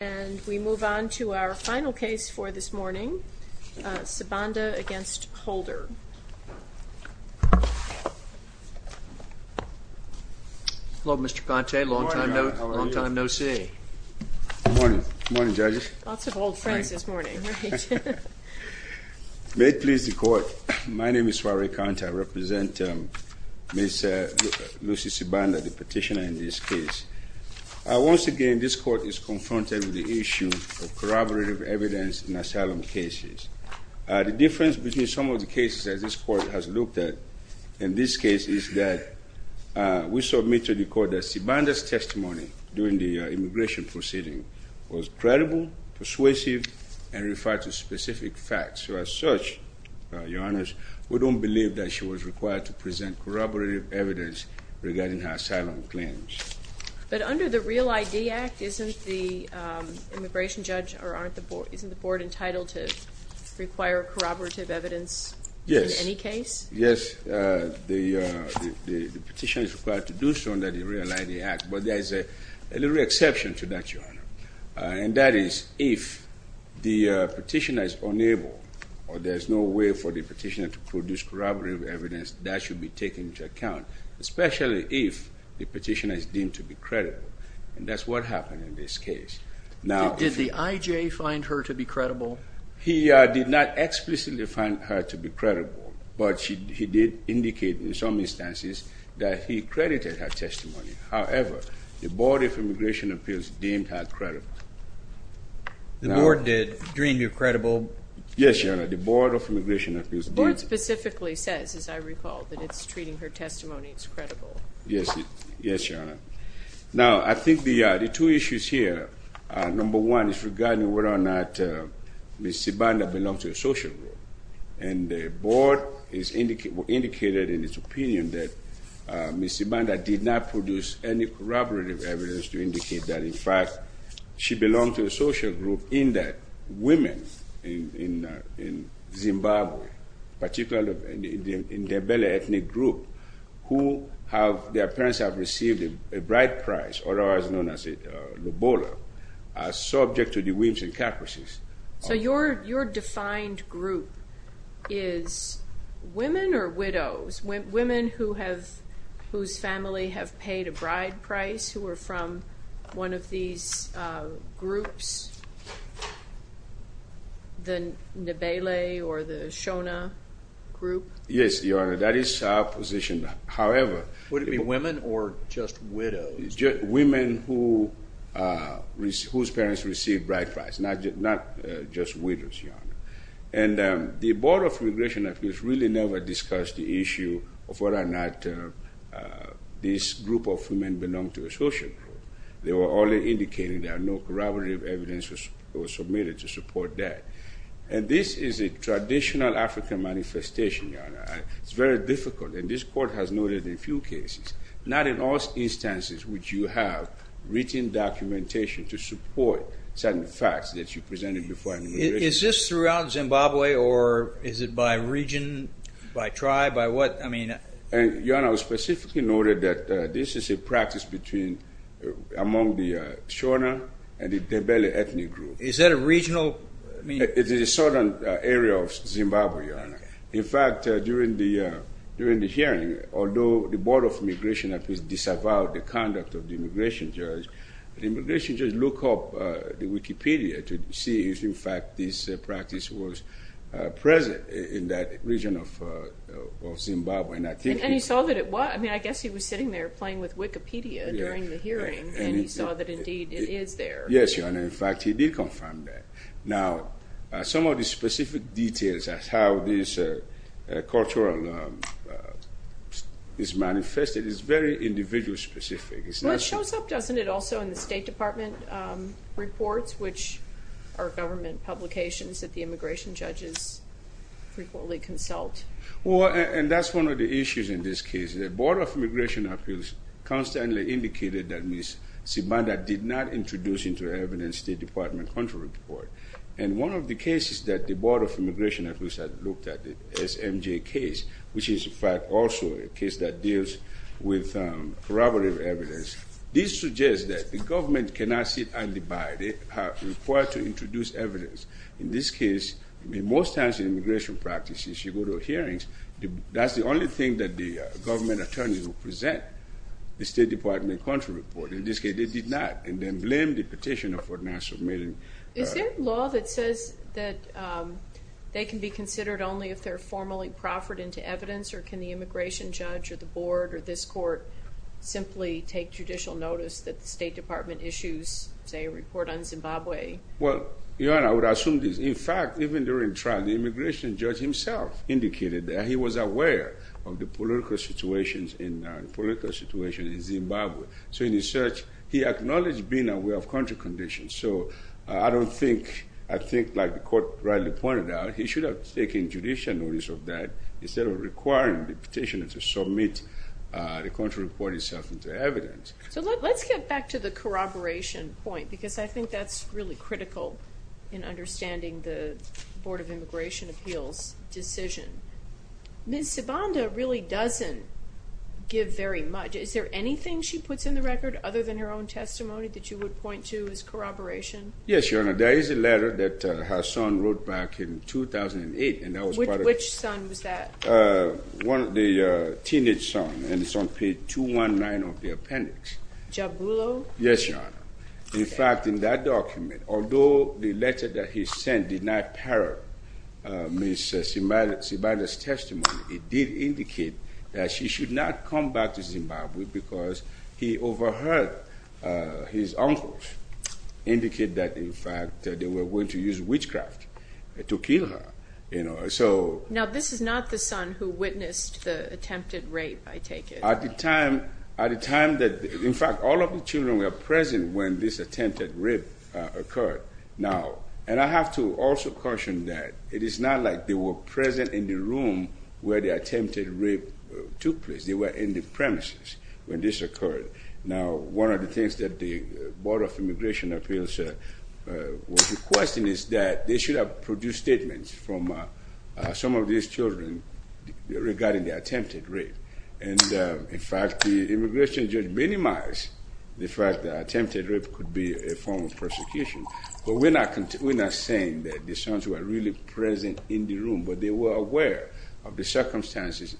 And we move on to our final case for this morning, Sibanda v. Holder. Hello, Mr. Conte. Long time no see. Good morning. Good morning, judges. Lots of old friends this morning. May it please the Court, my name is Suare Conte. I represent Ms. Lucy Sibanda, the petitioner in this case. Once again, this Court is confronted with the issue of corroborative evidence in asylum cases. The difference between some of the cases that this Court has looked at in this case is that we submit to the Court that Sibanda's testimony during the immigration proceeding was credible, persuasive, and referred to specific facts. So as such, Your Honors, we don't believe that she was required to present corroborative evidence regarding her asylum claims. But under the Real ID Act, isn't the immigration judge or isn't the Board entitled to require corroborative evidence in any case? Yes. Yes, the petitioner is required to do so under the Real ID Act, but there is a little exception to that, Your Honor. And that is if the petitioner is unable or there is no way for the petitioner to produce corroborative evidence, that should be taken into account, especially if the petitioner is deemed to be credible. And that's what happened in this case. Did the IJ find her to be credible? He did not explicitly find her to be credible, but he did indicate in some instances that he credited her testimony. However, the Board of Immigration Appeals deemed her credible. The Board did deem you credible? Yes, Your Honor. The Board of Immigration Appeals did. The Board specifically says, as I recall, that it's treating her testimony as credible. Yes. Yes, Your Honor. Now, I think the two issues here, number one is regarding whether or not Ms. Zibanda belonged to a social group. And the Board indicated in its opinion that Ms. Zibanda did not produce any corroborative evidence to indicate that, in fact, she belonged to a social group in that women in Zimbabwe, particularly in the Ndebele ethnic group, who have, their parents have received a bride price, otherwise known as a lobola, are subject to the whims and caprices. So your defined group is women or widows, women whose family have paid a bride price, who are from one of these groups, the Ndebele or the Shona group? Yes, Your Honor, that is our position. However... Would it be women or just widows? Just women whose parents received bride price, not just widows, Your Honor. And the Board of Immigration Appeals really never discussed the issue of whether or not this group of women belonged to a social group. They were only indicating that no corroborative evidence was submitted to support that. And this is a traditional African manifestation, Your Honor. It's very difficult, and this Court has noted in a few cases, not in all instances which you have written documentation to support certain facts that you presented before immigration. Is this throughout Zimbabwe, or is it by region, by tribe, by what, I mean... Your Honor, it was specifically noted that this is a practice between, among the Shona and the Ndebele ethnic group. Is that a regional... It is a southern area of Zimbabwe, Your Honor. In fact, during the hearing, although the Board of Immigration Appeals disavowed the conduct of the immigration judge, the immigration judge looked up the Wikipedia to see if, in fact, this practice was present in that region of Zimbabwe. And he saw that it was. I mean, I guess he was sitting there playing with Wikipedia during the hearing, and he saw that, indeed, it is there. Yes, Your Honor. In fact, he did confirm that. Now, some of the specific details of how this cultural is manifested is very individual-specific. Well, it shows up, doesn't it, also in the State Department reports, which are government publications that the immigration judges frequently consult. Well, and that's one of the issues in this case. The Board of Immigration Appeals constantly indicated that Ms. Zimbanda did not introduce into evidence the State Department cultural report. And one of the cases that the Board of Immigration Appeals had looked at, the SMJ case, which is, in fact, also a case that deals with corroborative evidence, this suggests that the government cannot sit and abide. They are required to introduce evidence. In this case, most times in immigration practices, you go to hearings, that's the only thing that the government attorneys will present, the State Department cultural report. In this case, they did not, and then blamed the petitioner for not submitting. Is there law that says that they can be considered only if they're formally proffered into evidence, or can the immigration judge or the board or this court simply take judicial notice that the State Department issues, say, a report on Zimbabwe? Well, Joanne, I would assume this. In fact, even during trial, the immigration judge himself indicated that he was aware of the political situations in Zimbabwe. So in his search, he acknowledged being aware of country conditions. So I don't think, I think like the court rightly pointed out, he should have taken judicial notice of that instead of requiring the petitioner to submit the cultural report itself into evidence. So let's get back to the corroboration point, because I think that's really critical in understanding the Board of Immigration Appeals decision. Ms. Sibanda really doesn't give very much. Is there anything she puts in the record other than her own testimony that you would point to as corroboration? Yes, Your Honor. There is a letter that her son wrote back in 2008, and that was part of it. Which son was that? The teenage son, and it's on page 219 of the appendix. Jabulo? Yes, Your Honor. In fact, in that document, although the letter that he sent did not parrot Ms. Sibanda's testimony, it did indicate that she should not come back to Zimbabwe because he overheard his uncles indicate that, in fact, they were going to use witchcraft to kill her. Now, this is not the son who witnessed the attempted rape, I take it? At the time that, in fact, all of the children were present when this attempted rape occurred. Now, and I have to also caution that it is not like they were present in the room where the attempted rape took place. They were in the premises when this occurred. Now, one of the things that the Board of Immigration Appeals was requesting is that they should have produced statements from some of these children regarding the attempted rape. And, in fact, the immigration judge minimized the fact that attempted rape could be a form of persecution. But we're not saying that the sons were really present in the room, but they were aware of the circumstances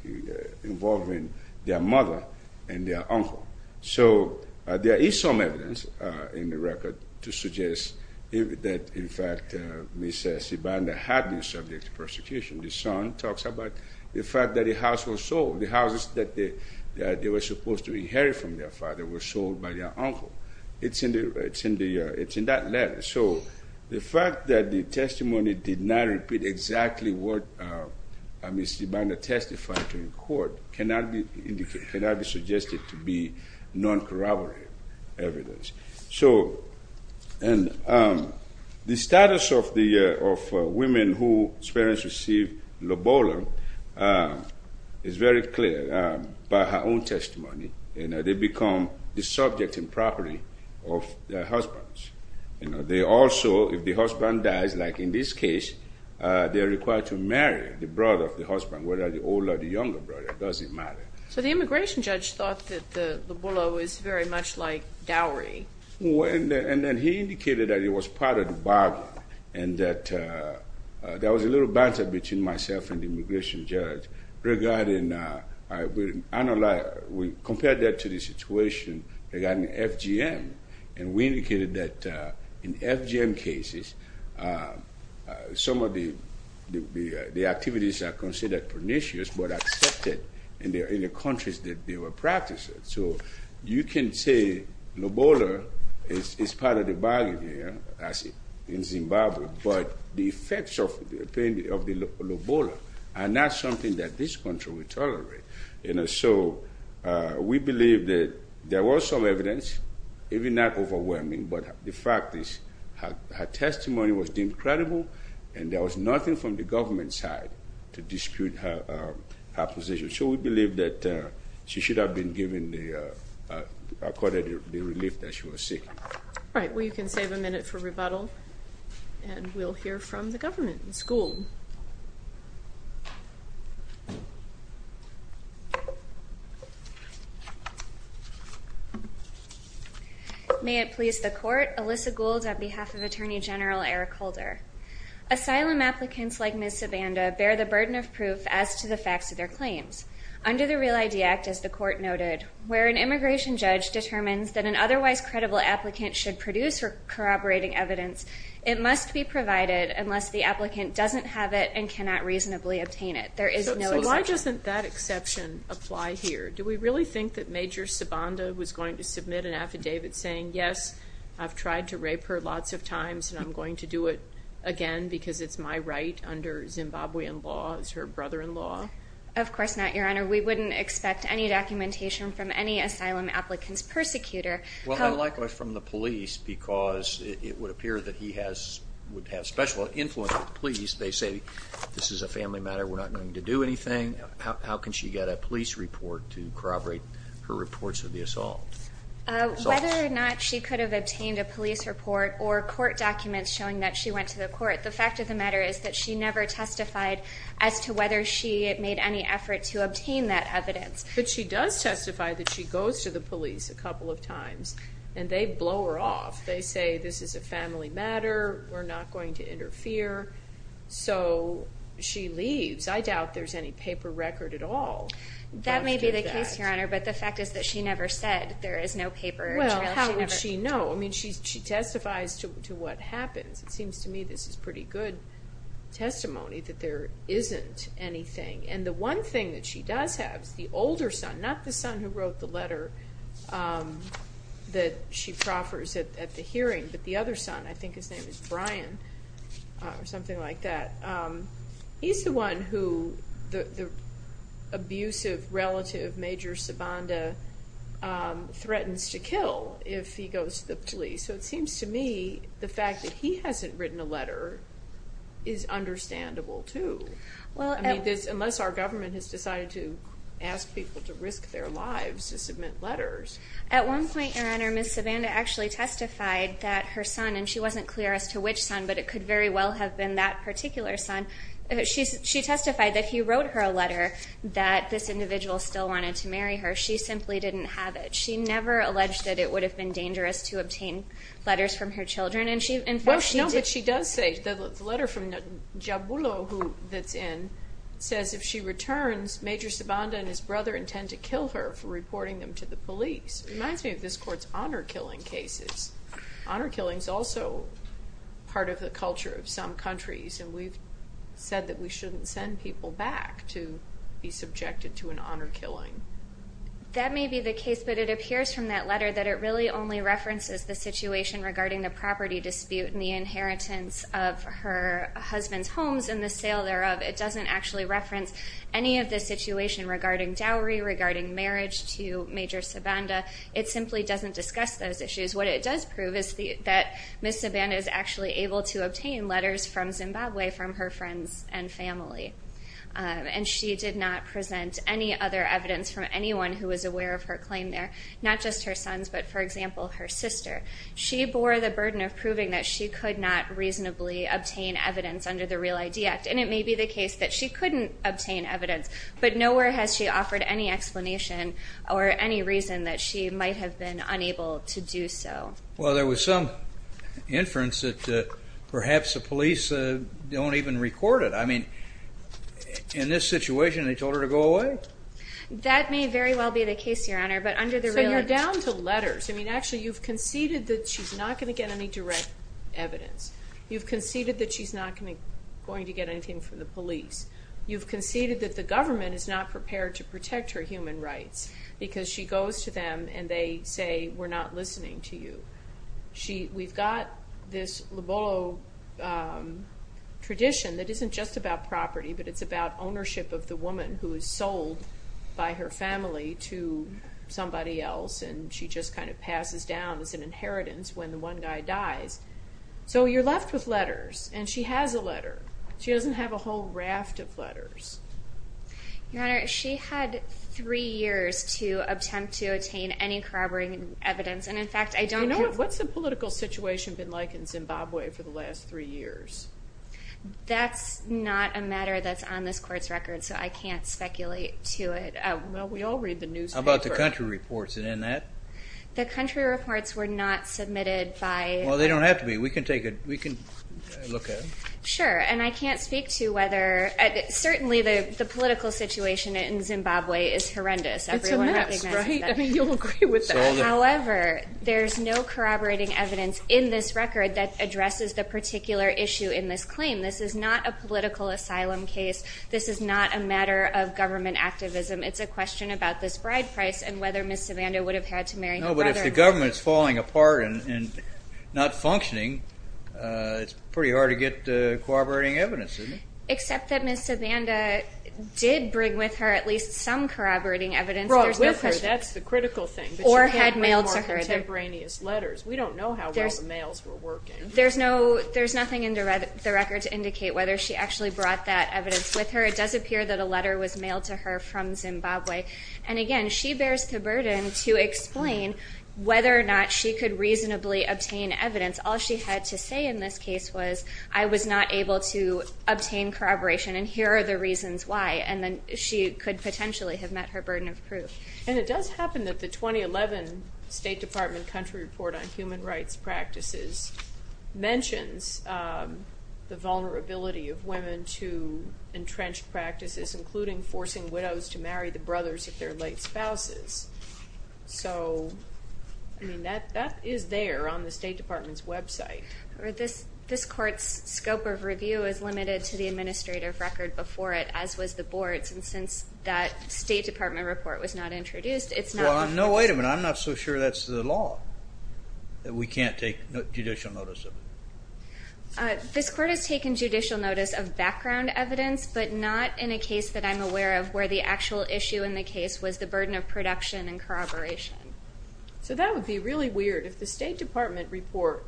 involving their mother and their uncle. So there is some evidence in the record to suggest that, in fact, Ms. Sibanda had been subject to persecution. The son talks about the fact that the house was sold. The houses that they were supposed to inherit from their father were sold by their uncle. It's in that letter. So the fact that the testimony did not repeat exactly what Ms. Sibanda testified to in court cannot be suggested to be non-corroborative evidence. So the status of the women whose parents received Lobolo is very clear by her own testimony. They become the subject and property of their husbands. They also, if the husband dies, like in this case, they are required to marry the brother of the husband, whether the older or the younger brother. It doesn't matter. So the immigration judge thought that the Lobolo is very much like Dowry. And then he indicated that it was part of the bargain and that there was a little banter between myself and the immigration judge regarding, we compared that to the situation regarding FGM. And we indicated that in FGM cases, some of the activities are considered pernicious but accepted in the countries that they were practicing. So you can say Lobolo is part of the bargain here in Zimbabwe, but the effects of the Lobolo are not something that this country would tolerate. So we believe that there was some evidence, even not overwhelming, but the fact is her testimony was deemed credible and there was nothing from the government side to dispute her position. So we believe that she should have been given the relief that she was seeking. All right, well you can save a minute for rebuttal and we'll hear from the government school. May it please the court, Alyssa Gould on behalf of Attorney General Eric Holder. Asylum applicants like Ms. Zabanda bear the burden of proof as to the facts of their claims. Under the Real ID Act, as the court noted, where an immigration judge determines that an otherwise credible applicant should produce corroborating evidence, it must be provided unless the applicant doesn't have it and cannot reasonably obtain it. There is no exception. So why doesn't that exception apply here? Do we really think that Major Zabanda was going to submit an affidavit saying, yes, I've tried to rape her lots of times and I'm going to do it again because it's my right under Zimbabwean law as her brother-in-law? Of course not, Your Honor. We wouldn't expect any documentation from any asylum applicant's persecutor. Well, and likewise from the police because it would appear that he would have special influence with the police. They say this is a family matter, we're not going to do anything. How can she get a police report to corroborate her reports of the assault? Whether or not she could have obtained a police report or court documents showing that she went to the court, the fact of the matter is that she never testified as to whether she made any effort to obtain that evidence. But she does testify that she goes to the police a couple of times and they blow her off. They say this is a family matter, we're not going to interfere, so she leaves. I doubt there's any paper record at all. That may be the case, Your Honor, but the fact is that she never said there is no paper. Well, how would she know? I mean, she testifies to what happens. It seems to me this is pretty good testimony that there isn't anything. And the one thing that she does have is the older son, not the son who wrote the letter that she proffers at the hearing, but the other son, I think his name is Brian or something like that. He's the one who the abusive relative, Major Sabanda, threatens to kill if he goes to the police. So it seems to me the fact that he hasn't written a letter is understandable, too, unless our government has decided to ask people to risk their lives to submit letters. At one point, Your Honor, Ms. Sabanda actually testified that her son, and she wasn't clear as to which son, but it could very well have been that particular son, she testified that he wrote her a letter that this individual still wanted to marry her. She simply didn't have it. She never alleged that it would have been dangerous to obtain letters from her children. Well, no, but she does say the letter from Jabulo that's in says if she returns, Major Sabanda and his brother intend to kill her for reporting them to the police. It reminds me of this Court's honor killing cases. Honor killing is also part of the culture of some countries, and we've said that we shouldn't send people back to be subjected to an honor killing. That may be the case, but it appears from that letter that it really only references the situation regarding the property dispute and the inheritance of her husband's homes and the sale thereof. It doesn't actually reference any of the situation regarding dowry, regarding marriage to Major Sabanda. It simply doesn't discuss those issues. What it does prove is that Ms. Sabanda is actually able to obtain letters from Zimbabwe from her friends and family, and she did not present any other evidence from anyone who was aware of her claim there, not just her sons but, for example, her sister. She bore the burden of proving that she could not reasonably obtain evidence under the Real ID Act, and it may be the case that she couldn't obtain evidence, but nowhere has she offered any explanation or any reason that she might have been unable to do so. Well, there was some inference that perhaps the police don't even record it. I mean, in this situation, they told her to go away? That may very well be the case, Your Honor, but under the Real ID Act... So you're down to letters. I mean, actually, you've conceded that she's not going to get any direct evidence. You've conceded that she's not going to get anything from the police. You've conceded that the government is not prepared to protect her human rights because she goes to them and they say, we're not listening to you. We've got this Lobolo tradition that isn't just about property, but it's about ownership of the woman who is sold by her family to somebody else, and she just kind of passes down as an inheritance when the one guy dies. So you're left with letters, and she has a letter. She doesn't have a whole raft of letters. Your Honor, she had three years to attempt to attain any corroborating evidence, and, in fact, I don't have... You know what? What's the political situation been like in Zimbabwe for the last three years? That's not a matter that's on this Court's record, so I can't speculate to it. Well, we all read the newspaper. How about the country reports? Is it in that? The country reports were not submitted by... Well, they don't have to be. We can take a look at them. Sure, and I can't speak to whether certainly the political situation in Zimbabwe is horrendous. Everyone recognizes that. It's a mess, right? I mean, you'll agree with that. However, there's no corroborating evidence in this record that addresses the particular issue in this claim. This is not a political asylum case. This is not a matter of government activism. It's a question about this bride price and whether Ms. Savanda would have had to marry her brother. No, but if the government is falling apart and not functioning, it's pretty hard to get corroborating evidence, isn't it? Except that Ms. Savanda did bring with her at least some corroborating evidence. That's the critical thing. Or had mailed to her. More contemporaneous letters. We don't know how well the mails were working. There's nothing in the record to indicate whether she actually brought that evidence with her. It does appear that a letter was mailed to her from Zimbabwe. And, again, she bears the burden to explain whether or not she could reasonably obtain evidence. All she had to say in this case was, I was not able to obtain corroboration, and here are the reasons why. And then she could potentially have met her burden of proof. And it does happen that the 2011 State Department Country Report on Human Rights Practices mentions the vulnerability of women to entrenched practices, including forcing widows to marry the brothers of their late spouses. So, I mean, that is there on the State Department's website. This Court's scope of review is limited to the administrative record before it, as was the Board's, and since that State Department report was not introduced, it's not. No, wait a minute. I'm not so sure that's the law, that we can't take judicial notice of it. This Court has taken judicial notice of background evidence, but not in a case that I'm aware of where the actual issue in the case was the burden of production and corroboration. So that would be really weird. If the State Department report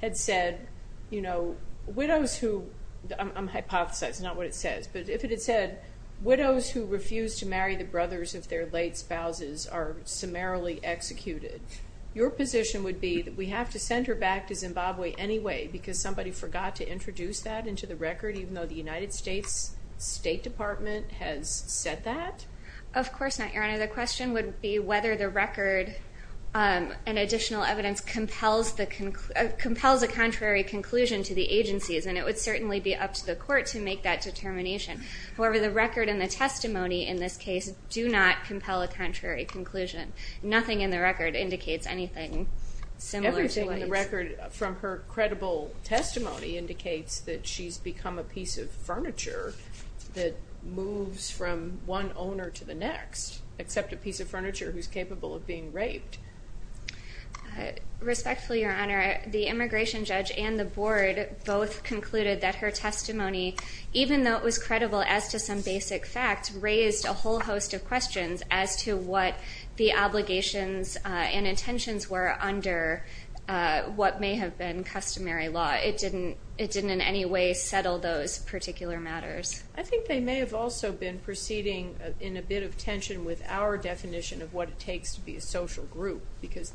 had said, you know, widows who, I'm hypothesizing, not what it says, but if it had said, widows who refuse to marry the brothers of their late spouses are summarily executed, your position would be that we have to send her back to Zimbabwe anyway, because somebody forgot to introduce that into the record, even though the United States State Department has said that? Of course not, Your Honor. The question would be whether the record and additional evidence compels a contrary conclusion to the agency's, and it would certainly be up to the Court to make that determination. However, the record and the testimony in this case do not compel a contrary conclusion. Nothing in the record indicates anything similar to these. Everything in the record from her credible testimony indicates that she's become a piece of furniture that moves from one owner to the next, except a piece of furniture who's capable of being raped. Respectfully, Your Honor, the immigration judge and the board both concluded that her testimony, even though it was credible as to some basic facts, raised a whole host of questions as to what the obligations and intentions were under what may have been customary law. It didn't in any way settle those particular matters. I think they may have also been proceeding in a bit of tension with our definition of what it takes to be a social group, because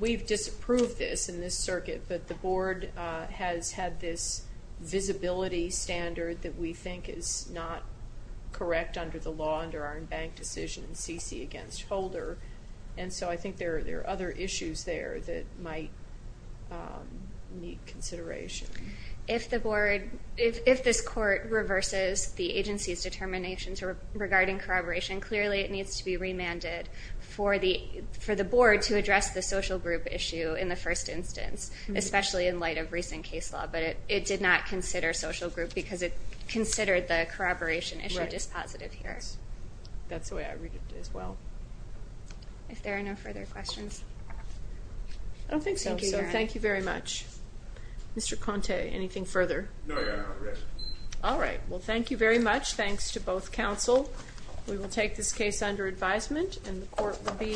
we've disapproved this in this circuit, but the board has had this visibility standard that we think is not correct under the law, under our embanked decision in C.C. against Holder, and so I think there are other issues there that might need consideration. If this court reverses the agency's determination regarding corroboration, clearly it needs to be remanded for the board to address the social group issue in the first instance, especially in light of recent case law, but it did not consider social group because it considered the corroboration issue dispositive here. That's the way I read it as well. If there are no further questions. I don't think so, so thank you very much. Mr. Conte, anything further? No, Your Honor. All right. Well, thank you very much. Thanks to both counsel. We will take this case under advisement, and the court will be adjourned.